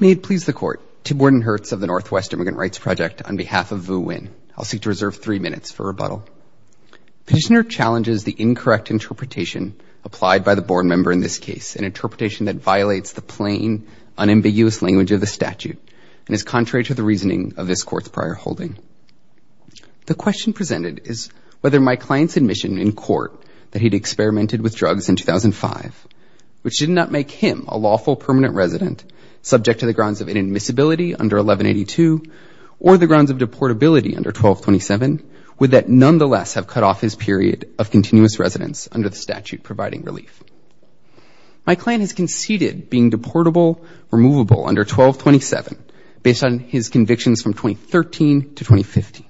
May it please the Court, Tim Wordenhertz of the Northwest Immigrant Rights Project, on behalf of Vu Nguyen, I will seek to reserve three minutes for rebuttal. Petitioner challenges the incorrect interpretation applied by the board member in this case, an interpretation that violates the plain, unambiguous language of the statute, and is contrary to the reasoning of this Court's prior holding. The question presented is whether my client's admission in court that he had experimented with drugs in 2005, which did not make him a lawful permanent resident, subject to the grounds of inadmissibility under 1182, or the grounds of deportability under 1227, would that nonetheless have cut off his period of continuous residence under the statute providing relief. My client has conceded being deportable, removable under 1227, based on his convictions from 2013 to 2015,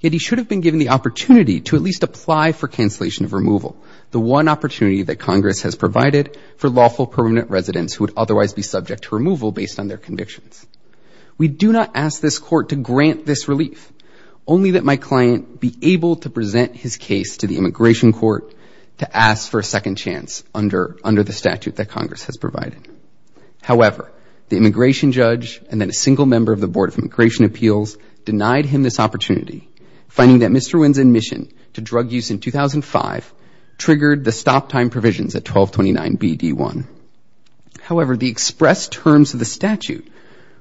yet he should have been given the opportunity to at least apply for cancellation of removal, the one opportunity that Congress has provided for lawful permanent residents who would otherwise be subject to removal based on their convictions. We do not ask this Court to grant this relief, only that my client be able to present his case to the Immigration Court to ask for a second chance under the statute that Congress has provided. However, the immigration judge and then a single member of the Board of Immigration the stop time provisions at 1229BD1. However, the express terms of the statute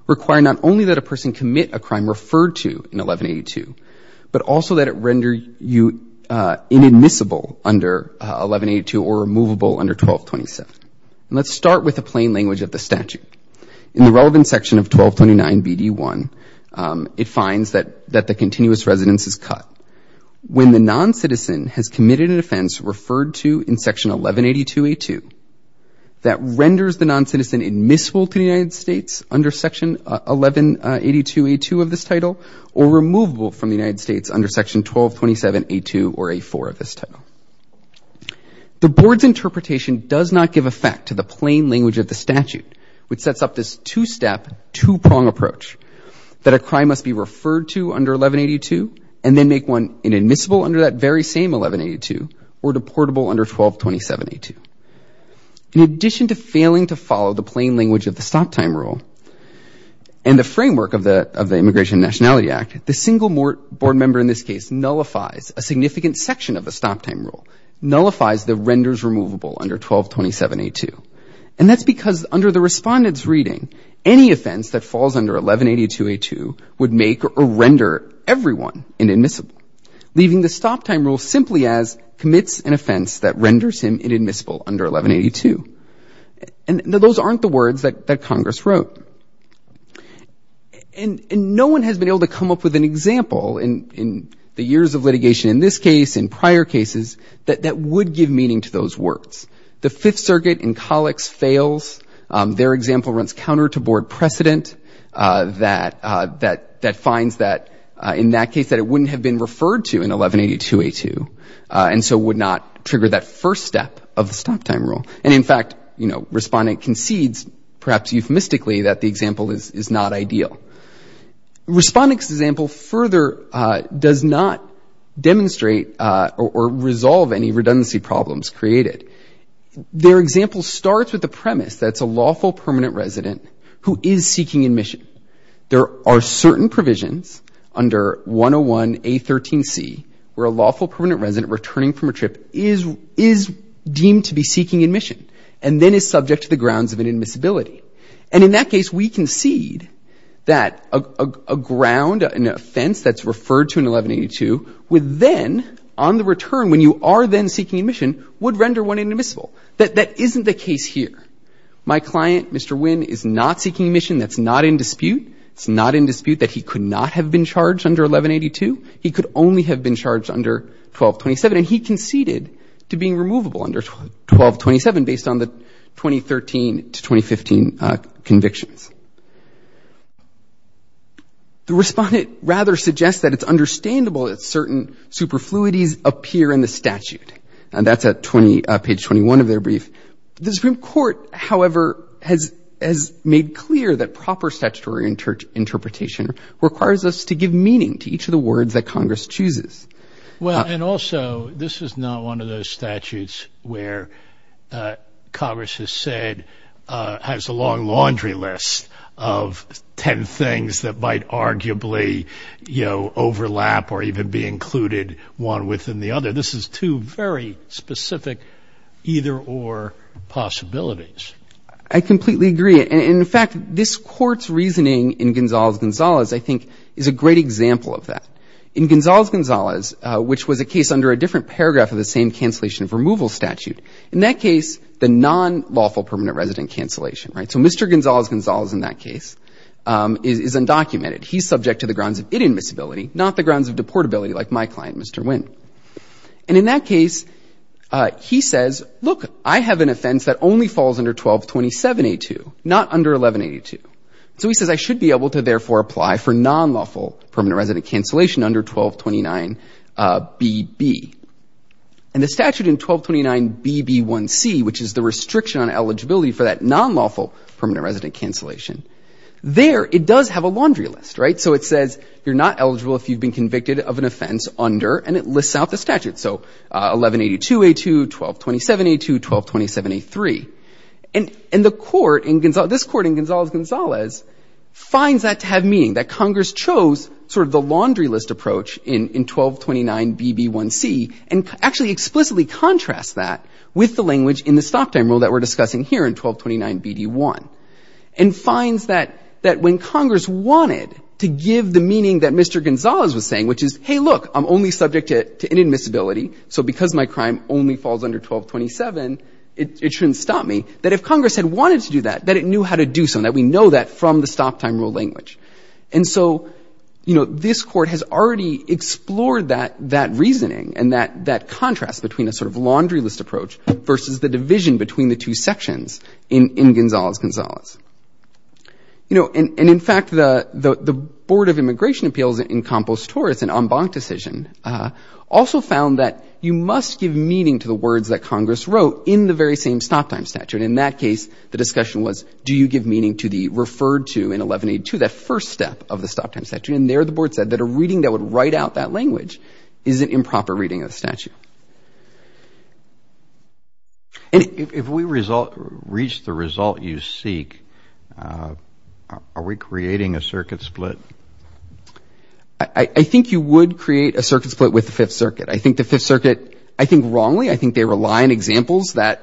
require not only that a person commit a crime referred to in 1182, but also that it render you inadmissible under 1182 or removable under 1227. And let's start with the plain language of the statute. In the relevant section of 1229BD1, it finds that the continuous residence is cut. When the non-citizen has committed an offense referred to in section 1182A2, that renders the non-citizen admissible to the United States under section 1182A2 of this title, or removable from the United States under section 1227A2 or A4 of this title. The Board's interpretation does not give effect to the plain language of the statute, which sets up this two-step, two-prong approach, that a crime must be referred to under 1182 and then make one inadmissible under that very same 1182 or deportable under 1227A2. In addition to failing to follow the plain language of the stop time rule and the framework of the Immigration and Nationality Act, the single board member in this case nullifies a significant section of the stop time rule, nullifies the renders removable under 1227A2. And that's because under the respondent's reading, any offense that falls under 1182A2 would make or render everyone inadmissible, leaving the stop time rule simply as commits an offense that renders him inadmissible under 1182. And those aren't the words that Congress wrote. And no one has been able to come up with an example in the years of litigation in this case, in prior cases, that would give meaning to those words. The Fifth Circuit in Collix fails. Their example runs counter to board precedent that finds that, in that case, that it wouldn't have been referred to in 1182A2 and so would not trigger that first step of the stop time rule. And in fact, you know, respondent concedes, perhaps euphemistically, that the example is not ideal. Respondent's example further does not demonstrate or resolve any redundancy problems created. Their example starts with the premise that it's a lawful permanent resident who is seeking admission. There are certain provisions under 101A13C where a lawful permanent resident returning from a trip is deemed to be seeking admission and then is subject to the grounds of inadmissibility. And in that case, we concede that a ground, an offense that's referred to in 1182, would you are then seeking admission, would render one inadmissible. That isn't the case here. My client, Mr. Wynn, is not seeking admission. That's not in dispute. It's not in dispute that he could not have been charged under 1182. He could only have been charged under 1227, and he conceded to being removable under 1227 based on the 2013 to 2015 convictions. The respondent rather suggests that it's understandable that certain superfluities appear in the statute. And that's at page 21 of their brief. The Supreme Court, however, has made clear that proper statutory interpretation requires us to give meaning to each of the words that Congress chooses. Well, and also, this is not one of those statutes where Congress has said, has a long laundry list of 10 things that might arguably, you know, overlap or even be included one within the other. This is two very specific either-or possibilities. I completely agree. And, in fact, this Court's reasoning in Gonzales-Gonzales, I think, is a great example of that. In Gonzales-Gonzales, which was a case under a different paragraph of the same cancellation of removal statute, in that case, the non-lawful permanent resident cancellation, right? So Mr. Gonzales-Gonzales in that case is undocumented. He's subject to the grounds of inadmissibility, not the grounds of deportability like my client, Mr. Wynn. And in that case, he says, look, I have an offense that only falls under 1227A2, not under 1182. So he says, I should be able to therefore apply for non-lawful permanent resident cancellation under 1229BB. And the statute in 1229BB1C, which is the restriction on eligibility for that non-lawful permanent resident cancellation, there it does have a laundry list, right? So it says you're not eligible if you've been convicted of an offense under, and it lists out the statute. So 1182A2, 1227A2, 1227A3. And the Court in Gonzales-Gonzales, this Court in Gonzales-Gonzales, finds that to have meaning, that Congress chose sort of the laundry list approach in 1229BB1C, and actually explicitly contrasts that with the language in the stop time rule that we're discussing here in 1229BD1. And finds that when Congress wanted to give the meaning that Mr. Gonzales was saying, which is, hey, look, I'm only subject to inadmissibility. So because my crime only falls under 1227, it shouldn't stop me, that if Congress had wanted to do that, that it knew how to do so, and that we know that from the stop time rule language. And so, you know, this Court has already explored that reasoning and that contrast between a sort of laundry list approach versus the division between the two sections in Gonzales-Gonzales. You know, and in fact, the Board of Immigration Appeals in Campos-Torres, an en banc decision, also found that you must give meaning to the words that Congress wrote in the very same stop time statute. In that case, the discussion was, do you give meaning to the referred to in 1182, that first step of the stop time statute, and there the Board said that a reading that would write out that language is an improper reading of the statute. If we reach the result you seek, are we creating a circuit split? I think you would create a circuit split with the Fifth Circuit. I think the Fifth Circuit, I think wrongly. I think they rely on examples that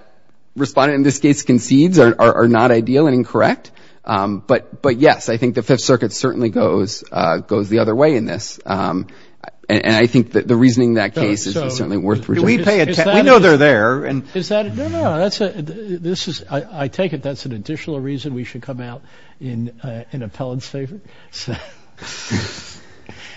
Respondent, in this case, concedes are not ideal and incorrect. But yes, I think the Fifth Circuit certainly goes the other way in this. And I think that the reasoning in that case is certainly worth projecting. We pay attention. We know they're there. Is that, no, no, that's a, this is, I take it that's an additional reason we should come out in an appellant's favor?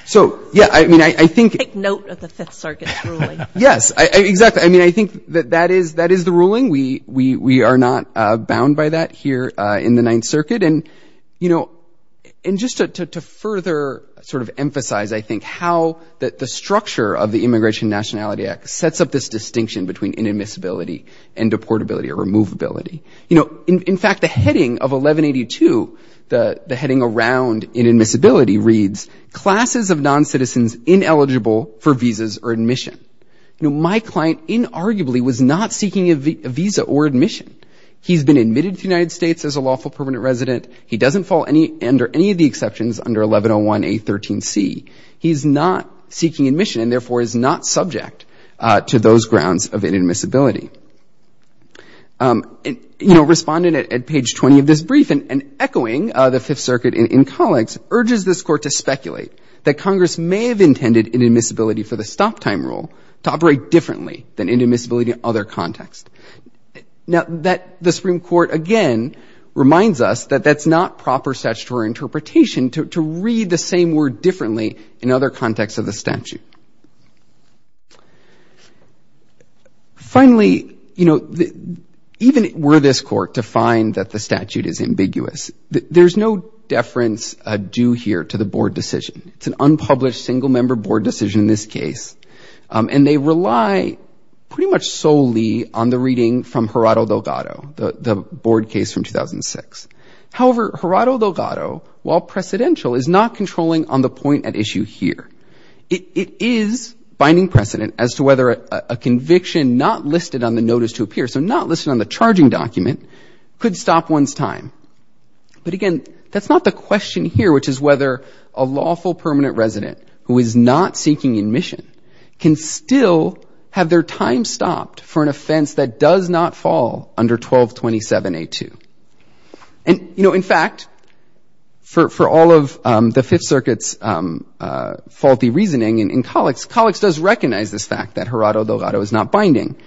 So yeah, I mean, I think Take note of the Fifth Circuit's ruling. Yes. Exactly. I mean, I think that that is the ruling. We are not bound by that here in the Ninth Circuit. And just to further sort of emphasize, I think, how the structure of the Immigration and Nationality Act sets up this distinction between inadmissibility and deportability or removability. In fact, the heading of 1182, the heading around inadmissibility reads, classes of noncitizens ineligible for visas or admission. My client inarguably was not seeking a visa or admission. He's been admitted to the United States as a lawful permanent resident. He doesn't fall under any of the exceptions under 1101A13C. He's not seeking admission and therefore is not subject to those grounds of inadmissibility. You know, respondent at page 20 of this brief, and echoing the Fifth Circuit in colleagues, urges this Court to speculate that Congress may have intended inadmissibility for the stop-time rule to operate differently than inadmissibility in other contexts. Now, the Supreme Court again reminds us that that's not proper statutory interpretation to read the same word differently in other contexts of the statute. Finally, you know, even were this Court to find that the statute is ambiguous, there's no deference due here to the Board decision. It's an unpublished single-member Board decision in this case, and they rely pretty much solely on the reading from Gerardo Delgado, the Board case from 2006. However, Gerardo Delgado, while precedential, is not controlling on the point at issue here. It is binding precedent as to whether a conviction not listed on the notice to appear, so not listed on the charging document, could stop one's time. But again, that's not the question here, which is whether a lawful permanent resident who is not seeking admission can still have their time stopped for an offense that does not fall under 1227A2. And you know, in fact, for all of the Fifth Circuit's faulty reasoning in colleagues, colleagues does recognize this fact that Gerardo Delgado is not binding.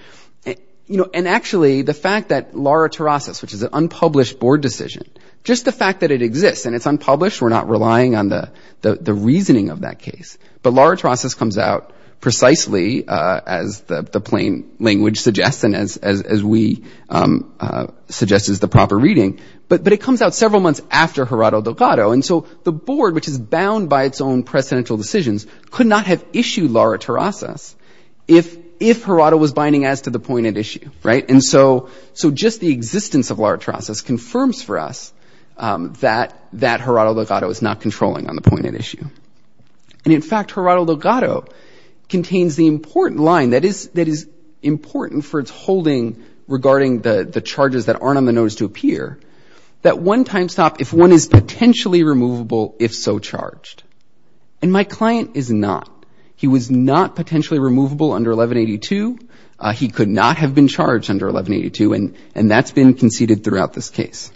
You know, and actually, the fact that lara terrasis, which is an unpublished Board decision, just the fact that it exists and it's unpublished, we're not relying on the reasoning of that case. But lara terrasis comes out precisely as the plain language suggests and as we suggest is the proper reading, but it comes out several months after Gerardo Delgado. And so the Board, which is bound by its own precedential decisions, could not have issued lara terrasis if Gerardo was binding as to the point at issue, right? And so just the existence of lara terrasis confirms for us that Gerardo Delgado is not controlling on the point at issue. And in fact, Gerardo Delgado contains the important line that is important for its holding regarding the charges that aren't on the notice to appear, that one time stop, if one is potentially removable, if so charged. And my client is not. He was not potentially removable under 1182. He could not have been charged under 1182, and that's been conceded throughout this case.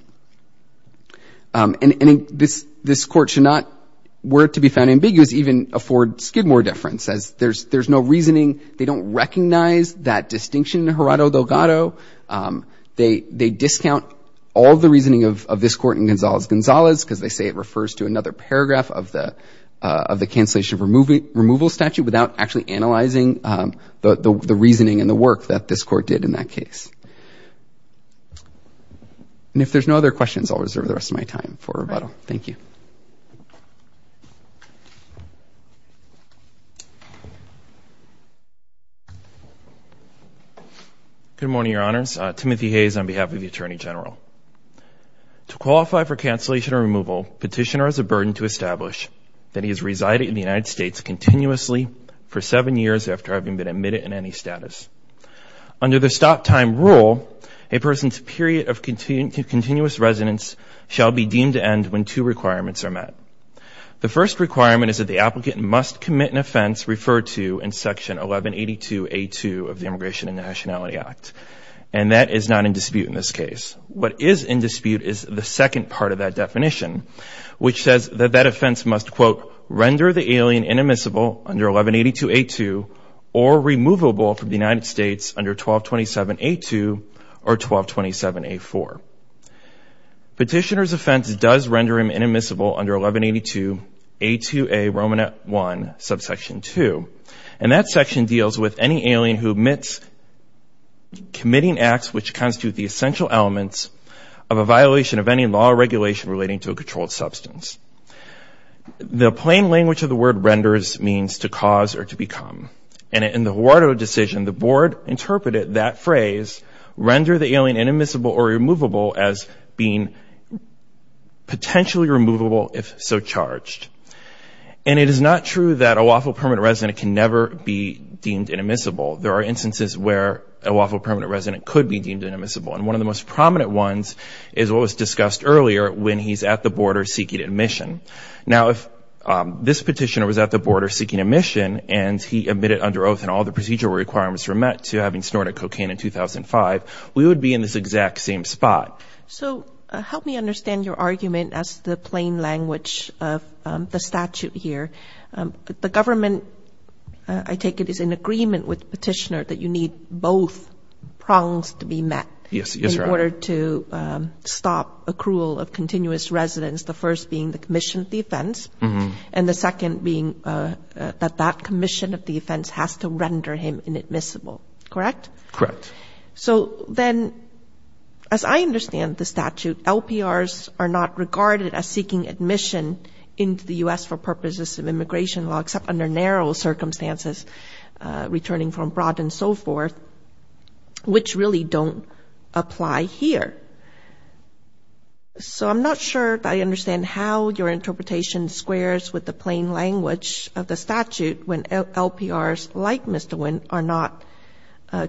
And this Court should not, were it to be found ambiguous, even afford Skidmore deference as there's no reasoning, they don't recognize that distinction in Gerardo Delgado. They discount all the reasoning of this Court in Gonzalez-Gonzalez because they say it removal statute without actually analyzing the reasoning and the work that this Court did in that case. And if there's no other questions, I'll reserve the rest of my time for rebuttal. Thank you. Good morning, Your Honors. Timothy Hayes on behalf of the Attorney General. To qualify for cancellation or removal, petitioner has a burden to establish that he has resided in the United States continuously for seven years after having been admitted in any status. Under the stop-time rule, a person's period of continuous residence shall be deemed to end when two requirements are met. The first requirement is that the applicant must commit an offense referred to in Section 1182A2 of the Immigration and Nationality Act, and that is not in dispute in this case. What is in dispute is the second part of that definition, which says that that offense must, quote, render the alien inadmissible under 1182A2 or removable from the United States under 1227A2 or 1227A4. Petitioner's offense does render him inadmissible under 1182A2A Romanet I, subsection 2. And that section deals with any alien who omits committing acts which constitute the The plain language of the word renders means to cause or to become. And in the Huarto decision, the board interpreted that phrase, render the alien inadmissible or removable, as being potentially removable if so charged. And it is not true that a lawful permanent resident can never be deemed inadmissible. There are instances where a lawful permanent resident could be deemed inadmissible, and one of the most prominent ones is what was discussed earlier when he's at the border seeking admission. Now, if this petitioner was at the border seeking admission, and he admitted under oath and all the procedural requirements were met to having snorted cocaine in 2005, we would be in this exact same spot. So help me understand your argument as the plain language of the statute here. The government, I take it, is in agreement with the petitioner that you need both prongs to be met in order to stop accrual of continuous residents, the first being the commissioner. And the second being that that commission of defense has to render him inadmissible, correct? Correct. So then, as I understand the statute, LPRs are not regarded as seeking admission into the U.S. for purposes of immigration law, except under narrow circumstances, returning from abroad and so forth, which really don't apply here. So I'm not sure I understand how your interpretation squares with the plain language of the statute when LPRs, like Mr. Wynn, are not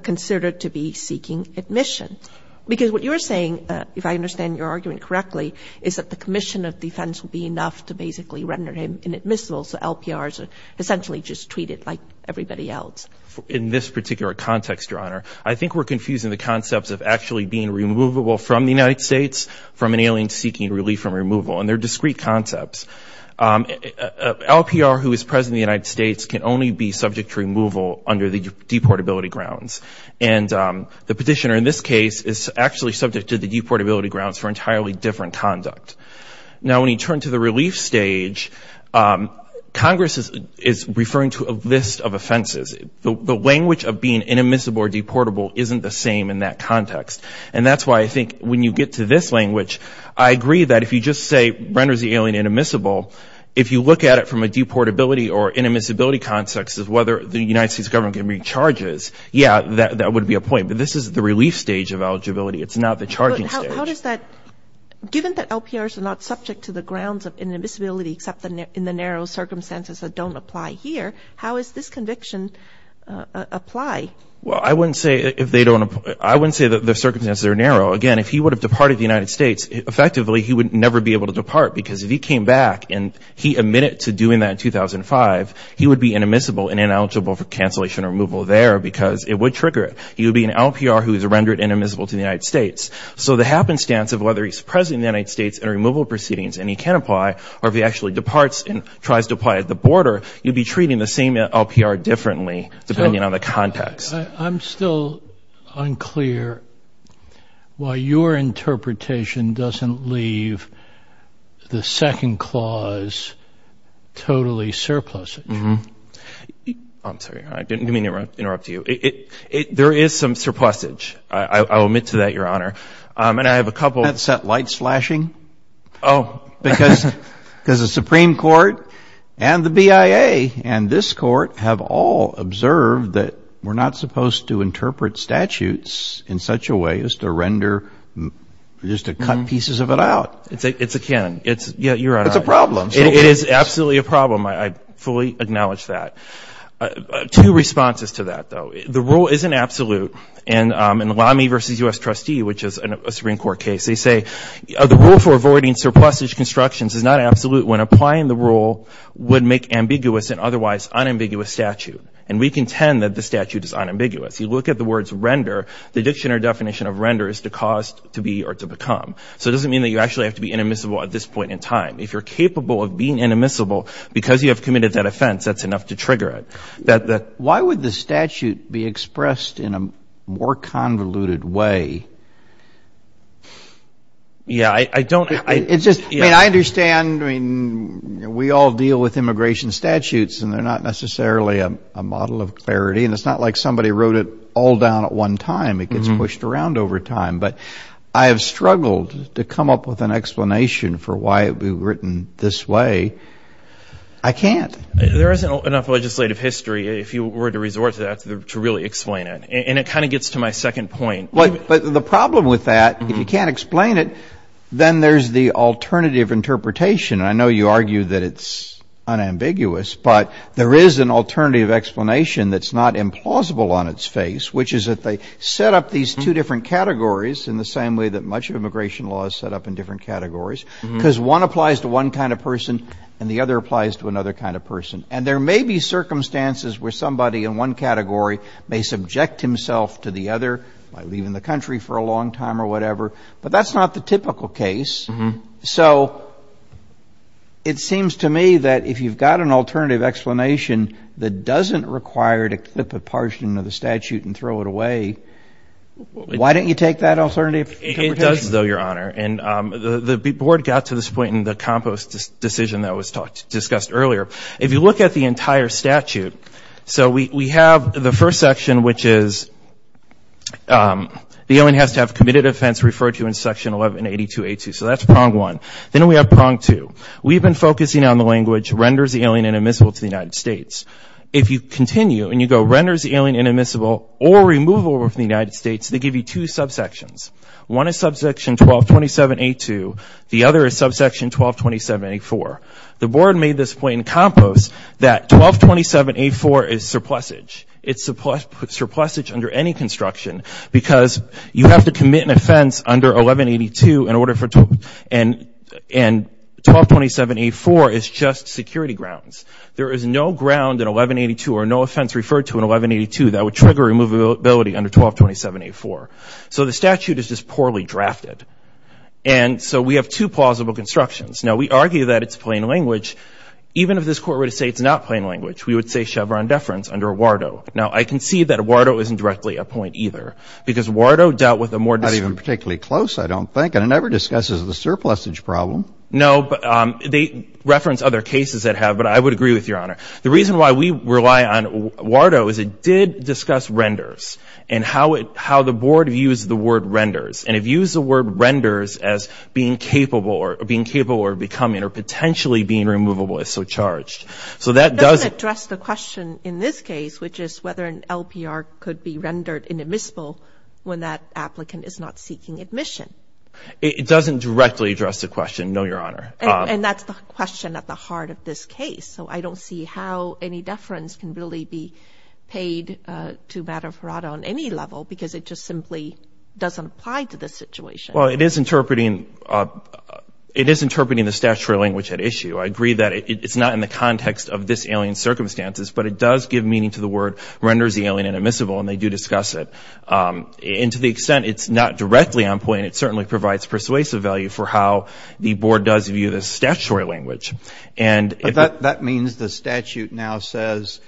considered to be seeking admission. Because what you're saying, if I understand your argument correctly, is that the commission of defense will be enough to basically render him inadmissible, so LPRs are essentially just treated like everybody else. In this particular context, Your Honor, I think we're confusing the concepts of actually being removable from the United States from an alien seeking relief from removal, and they're discrete concepts. A LPR who is present in the United States can only be subject to removal under the deportability grounds. And the petitioner in this case is actually subject to the deportability grounds for entirely different conduct. Now, when you turn to the relief stage, Congress is referring to a list of offenses. The language of being inadmissible or deportable isn't the same in that context. And that's why I think when you get to this language, I agree that if you just say renders the alien inadmissible, if you look at it from a deportability or inadmissibility context as whether the United States government can make charges, yeah, that would be a point. But this is the relief stage of eligibility. It's not the charging stage. But how does that, given that LPRs are not subject to the grounds of inadmissibility except in the narrow circumstances that don't apply here, how is this conviction apply? Well, I wouldn't say if they don't, I wouldn't say that the circumstances are narrow. Again, if he would have departed the United States, effectively, he would never be able to depart. Because if he came back and he admitted to doing that in 2005, he would be inadmissible and ineligible for cancellation or removal there because it would trigger it. He would be an LPR who is rendered inadmissible to the United States. So the happenstance of whether he's present in the United States in a removal proceedings and he can apply or if he actually departs and tries to apply at the border, you'd be treating the same LPR differently depending on the context. I'm still unclear why your interpretation doesn't leave the second clause totally surplusage. I'm sorry. I didn't mean to interrupt you. There is some surplusage. I'll admit to that, Your Honor. And I have a couple— That's that light slashing? Oh. Because the Supreme Court and the BIA and this Court have all observed that we're not supposed to interpret statutes in such a way as to render—just to cut pieces of it out. It's a canon. It's—yeah, Your Honor. It's a problem. It is absolutely a problem. I fully acknowledge that. Two responses to that, though. The rule isn't absolute. In Lamy v. U.S. trustee, which is a Supreme Court case, they say, the rule for avoiding surplusage constructions is not absolute when applying the rule would make ambiguous and otherwise unambiguous statute. And we contend that the statute is unambiguous. You look at the words render, the dictionary definition of render is to cause, to be, or to become. So it doesn't mean that you actually have to be inadmissible at this point in time. If you're capable of being inadmissible because you have committed that offense, that's enough to trigger it. Why would the statute be expressed in a more convoluted way? Yeah. I don't— It's just—I mean, I understand—I mean, we all deal with immigration statutes, and they're not necessarily a model of clarity, and it's not like somebody wrote it all down at one time. It gets pushed around over time. But I have struggled to come up with an explanation for why it would be written this way. I can't. There isn't enough legislative history, if you were to resort to that, to really explain it. And it kind of gets to my second point. But the problem with that, if you can't explain it, then there's the alternative interpretation. I know you argue that it's unambiguous, but there is an alternative explanation that's not implausible on its face, which is that they set up these two different categories in the same way that much of immigration law is set up in different categories, because one applies to one kind of person and the other applies to another kind of person. And there may be circumstances where somebody in one category may subject himself to the other by leaving the country for a long time or whatever, but that's not the typical case. So it seems to me that if you've got an alternative explanation that doesn't require to clip a portion of the statute and throw it away, why don't you take that alternative interpretation? It does though, Your Honor. And the board got to this point in the compost decision that was discussed earlier. If you look at the entire statute, so we have the first section, which is the alien has to have committed offense referred to in section 1182A2. So that's prong one. Then we have prong two. We've been focusing on the language renders the alien inadmissible to the United States. If you continue and you go renders the alien inadmissible or removal from the United States, they give you two subsections. One is subsection 1227A2. The other is subsection 1227A4. The board made this point in compost that 1227A4 is surplusage. It's surplusage under any construction because you have to commit an offense under 1182 in order for 1227A4 is just security grounds. There is no ground in 1182 or no offense referred to in 1182 that would trigger removability under 1227A4. So the statute is just poorly drafted. And so we have two plausible constructions. Now we argue that it's plain language. Even if this court were to say it's not plain language, we would say Chevron deference under Wardo. Now I can see that Wardo isn't directly a point either because Wardo dealt with a more dis- Not even particularly close, I don't think. And it never discusses the surplusage problem. No, but they reference other cases that have, but I would agree with your honor. The reason why we rely on Wardo is it did discuss renders and how the board views the word renders. And it views the word renders as being capable or becoming or potentially being removable if so charged. So that does- It doesn't address the question in this case, which is whether an LPR could be rendered inadmissible when that applicant is not seeking admission. It doesn't directly address the question, no, your honor. And that's the question at the heart of this case. So I don't see how any deference can really be paid to Madhav Hirata on any level because it just simply doesn't apply to this situation. Well, it is interpreting the statutory language at issue. I agree that it's not in the context of this alien circumstances, but it does give meaning to the word renders the alien inadmissible and they do discuss it. And to the extent it's not directly on point, it certainly provides persuasive value for how the board does view the statutory language. And if- But that means the statute now says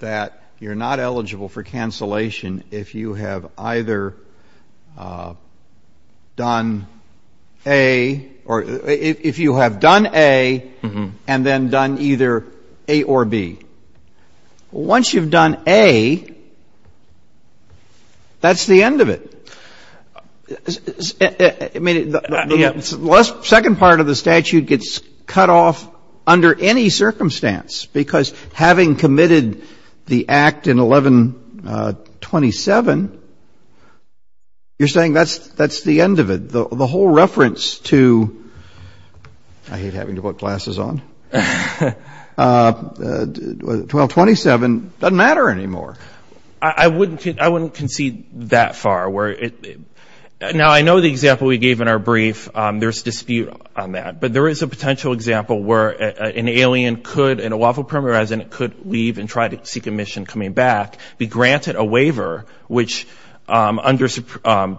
that you're not eligible for cancellation if you have either done A or if you have done A and then done either A or B. Well, once you've done A, that's the end of it. I mean, the second part of the statute gets cut off under any circumstance because having committed the act in 1127, you're saying that's the end of it. The whole reference to, I hate having to put glasses on, 1227 doesn't matter anymore. I wouldn't concede that far. Now I know the example we gave in our brief, there's dispute on that, but there is a potential example where an alien could, in a lawful perimeter, as in it could leave and try to seek admission coming back, be granted a waiver, which under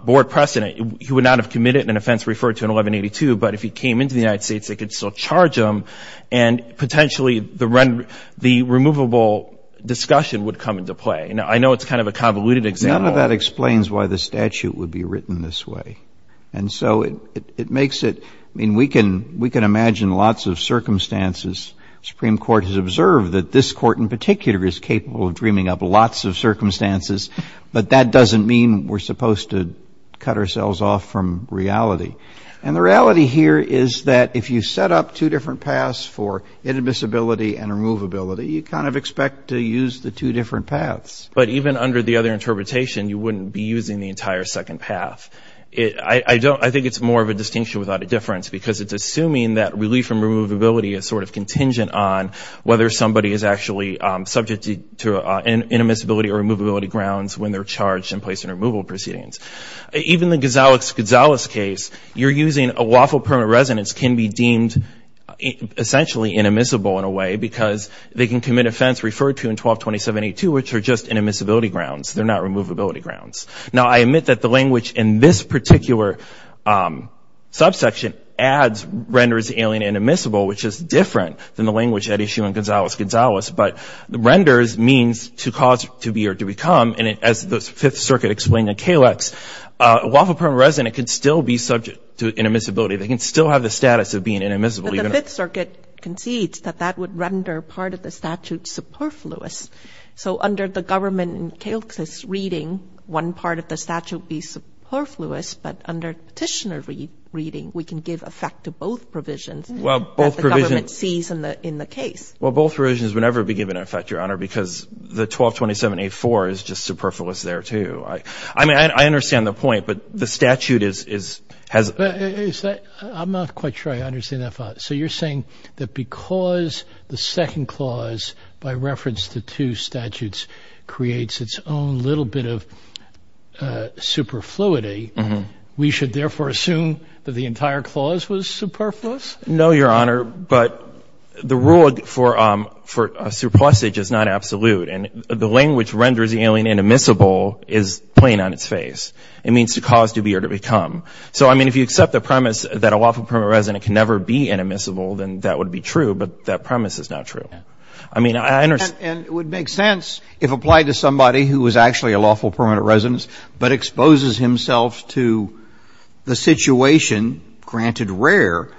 board precedent, he would not have committed an offense referred to in 1182, but if he came into the United States, they could still charge him and potentially the removable discussion would come into play. Now I know it's kind of a convoluted example. None of that explains why the statute would be written this way. And so it makes it, I mean, we can imagine lots of circumstances. Supreme Court has observed that this court in particular is capable of dreaming up lots of circumstances, but that doesn't mean we're supposed to cut ourselves off from reality. And the reality here is that if you set up two different paths for inadmissibility and removability, you kind of expect to use the two different paths. But even under the other interpretation, you wouldn't be using the entire second path. I think it's more of a distinction without a difference because it's assuming that relief and removability is sort of contingent on whether somebody is actually subject to inadmissibility or removability grounds when they're charged and placed in removal proceedings. Even the Gonzalez case, you're using a lawful permanent residence can be deemed essentially inadmissible in a way because they can commit offense referred to in 1227-82, which are just inadmissibility grounds. They're not removability grounds. Now I admit that the language in this particular subsection adds, renders alien inadmissible, which is different than the language at issue in Gonzalez-Gonzalez. But renders means to cause, to be, or to become. And as the Fifth Circuit explained in Calix, a lawful permanent resident can still be subject to inadmissibility. They can still have the status of being inadmissible. But the Fifth Circuit concedes that that would render part of the statute superfluous. So under the government, Calix is reading one part of the statute be superfluous, but under petitioner reading, we can give effect to both provisions that the government sees in the case. Well, both provisions would never be given effect, Your Honor, because the 1227-84 is just superfluous there, too. I mean, I understand the point, but the statute is, has... I'm not quite sure I understand that thought. So you're saying that because the second clause, by reference to two statutes, creates its own little bit of superfluity, we should therefore assume that the entire clause was superfluous? No, Your Honor, but the rule for a surplusage is not absolute, and the language renders the alien inadmissible is plain on its face. It means to cause, to be, or to become. So I mean, if you accept the premise that a lawful permanent resident can never be inadmissible, then that would be true, but that premise is not true. I mean, I understand... And it would make sense if applied to somebody who was actually a lawful permanent resident but exposes himself to the situation, granted rare,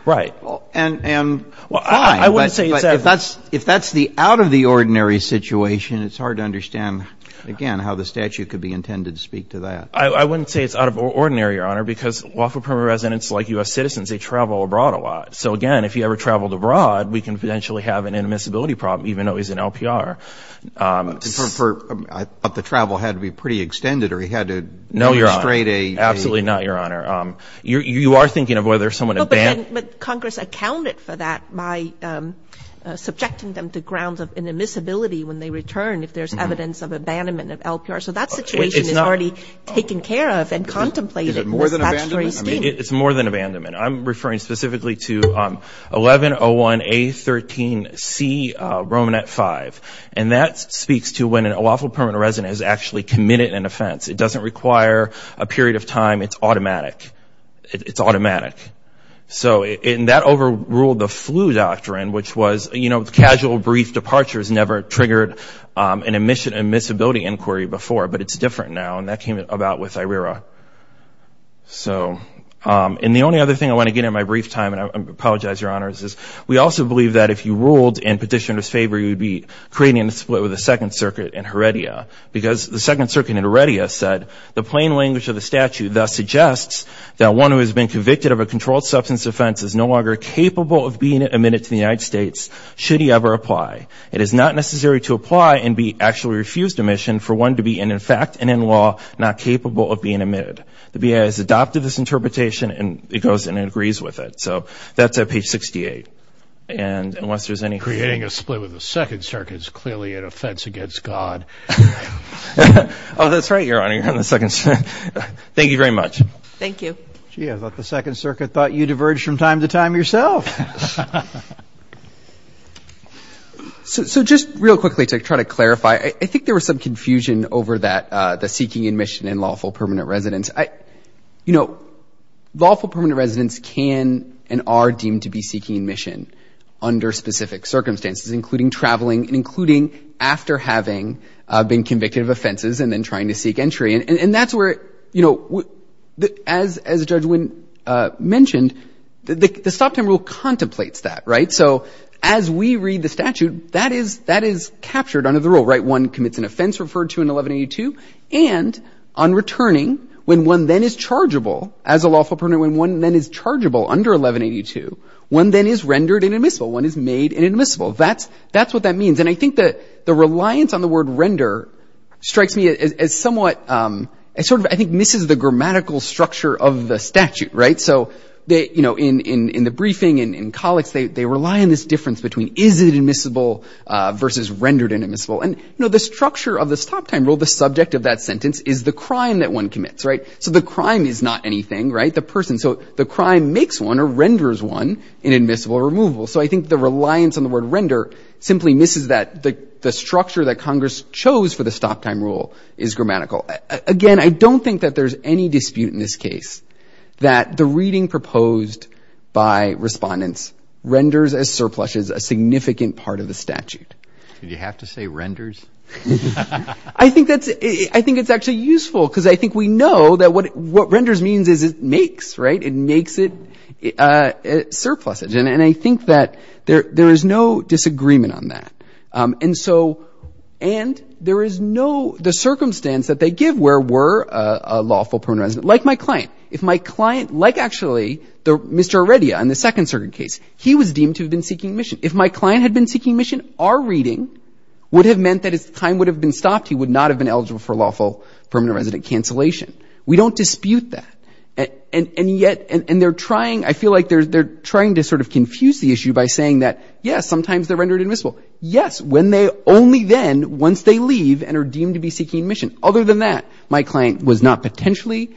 and fine, but if that's the out-of-the-ordinary situation, it's hard to understand, again, how the statute could be intended to speak to that. I wouldn't say it's out-of-the-ordinary, Your Honor, because lawful permanent residents, like U.S. citizens, they travel abroad a lot. So again, if he ever traveled abroad, we can potentially have an inadmissibility problem, even though he's in LPR. But the travel had to be pretty extended, or he had to demonstrate a... No, Your Honor. Absolutely not, Your Honor. You are thinking of whether someone... No, but Congress accounted for that by subjecting them to grounds of inadmissibility when they return, if there's evidence of abandonment of LPR. So that situation is already taken care of and contemplated in this statutory scheme. Is it more than abandonment? It's more than abandonment. I'm referring specifically to 1101A13C, Romanet 5. And that speaks to when a lawful permanent resident is actually committed an offense. It doesn't require a period of time. It's automatic. It's automatic. So that overruled the flu doctrine, which was casual, brief departures never triggered an admission and admissibility inquiry before, but it's different now, and that came about with IRERA. So... And the only other thing I want to get in my brief time, and I apologize, Your Honor, is we also believe that if you ruled in petitioner's favor, you would be creating a split with the Second Circuit in Heredia, because the Second Circuit in Heredia said, the plain language of the statute thus suggests that one who has been convicted of a controlled substance offense is no longer capable of being admitted to the United States, should he ever apply. It is not necessary to apply and be actually refused admission for one to be in effect and in law not capable of being admitted. The BIA has adopted this interpretation, and it goes and agrees with it. So that's at page 68. And unless there's any... Creating a split with the Second Circuit is clearly an offense against God. Oh, that's right, Your Honor. You're on the Second Circuit. Thank you very much. Thank you. Gee, I thought the Second Circuit thought you diverged from time to time yourself. So just real quickly to try to clarify, I think there was some confusion over that the seeking admission in lawful permanent residence. You know, lawful permanent residence can and are deemed to be seeking admission under specific circumstances, including traveling and including after having been convicted of offenses and then trying to seek entry. And that's where, you know, as Judge Winn mentioned, the Stop Time Rule contemplates that, right? So as we read the statute, that is captured under the rule, right? One commits an offense referred to in 1182. And on returning, when one then is chargeable as a lawful permanent, when one then is chargeable under 1182, one then is rendered inadmissible. One is made inadmissible. That's what that means. And I think that the reliance on the word render strikes me as somewhat... It sort of, I think, misses the grammatical structure of the statute, right? So, you know, in the briefing and in colleagues, they rely on this difference between is it admissible versus rendered inadmissible. And, you know, the structure of the Stop Time Rule, the subject of that sentence, is the crime that one commits, right? So the crime is not anything, right, the person. So the crime makes one or renders one inadmissible or removable. So I think the reliance on the word render simply misses that. The structure that Congress chose for the Stop Time Rule is grammatical. Again, I don't think that there's any dispute in this case that the reading proposed by respondents renders as surpluses a significant part of the statute. Did you have to say renders? I think it's actually useful because I think we know that what renders means is it makes, right? It makes it surpluses. And I think that there is no disagreement on that. And so, and there is no... The circumstance that they give where we're a lawful prone resident, like my client. If my client, like actually Mr. Arredia in the second certain case, he was deemed to have been seeking admission. If my client had been seeking admission, our reading would have meant that his time would have been stopped. He would not have been eligible for lawful permanent resident cancellation. We don't dispute that. And yet, and they're trying, I feel like they're trying to sort of confuse the issue by saying that, yes, sometimes they're rendered admissible. Yes, when they only then, once they leave and are deemed to be seeking admission. Other than that, my client was not potentially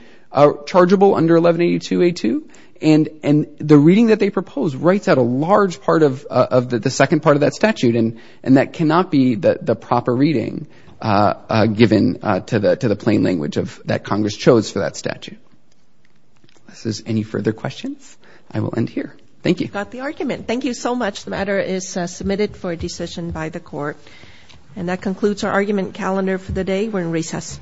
chargeable under 1182A2. And the reading that they propose writes out a large part of the second part of that statute. And that cannot be the proper reading given to the plain language that Congress chose for that statute. Unless there's any further questions, I will end here. Thank you. You got the argument. Thank you so much. The matter is submitted for a decision by the court. And that concludes our argument calendar for the day. We're in recess.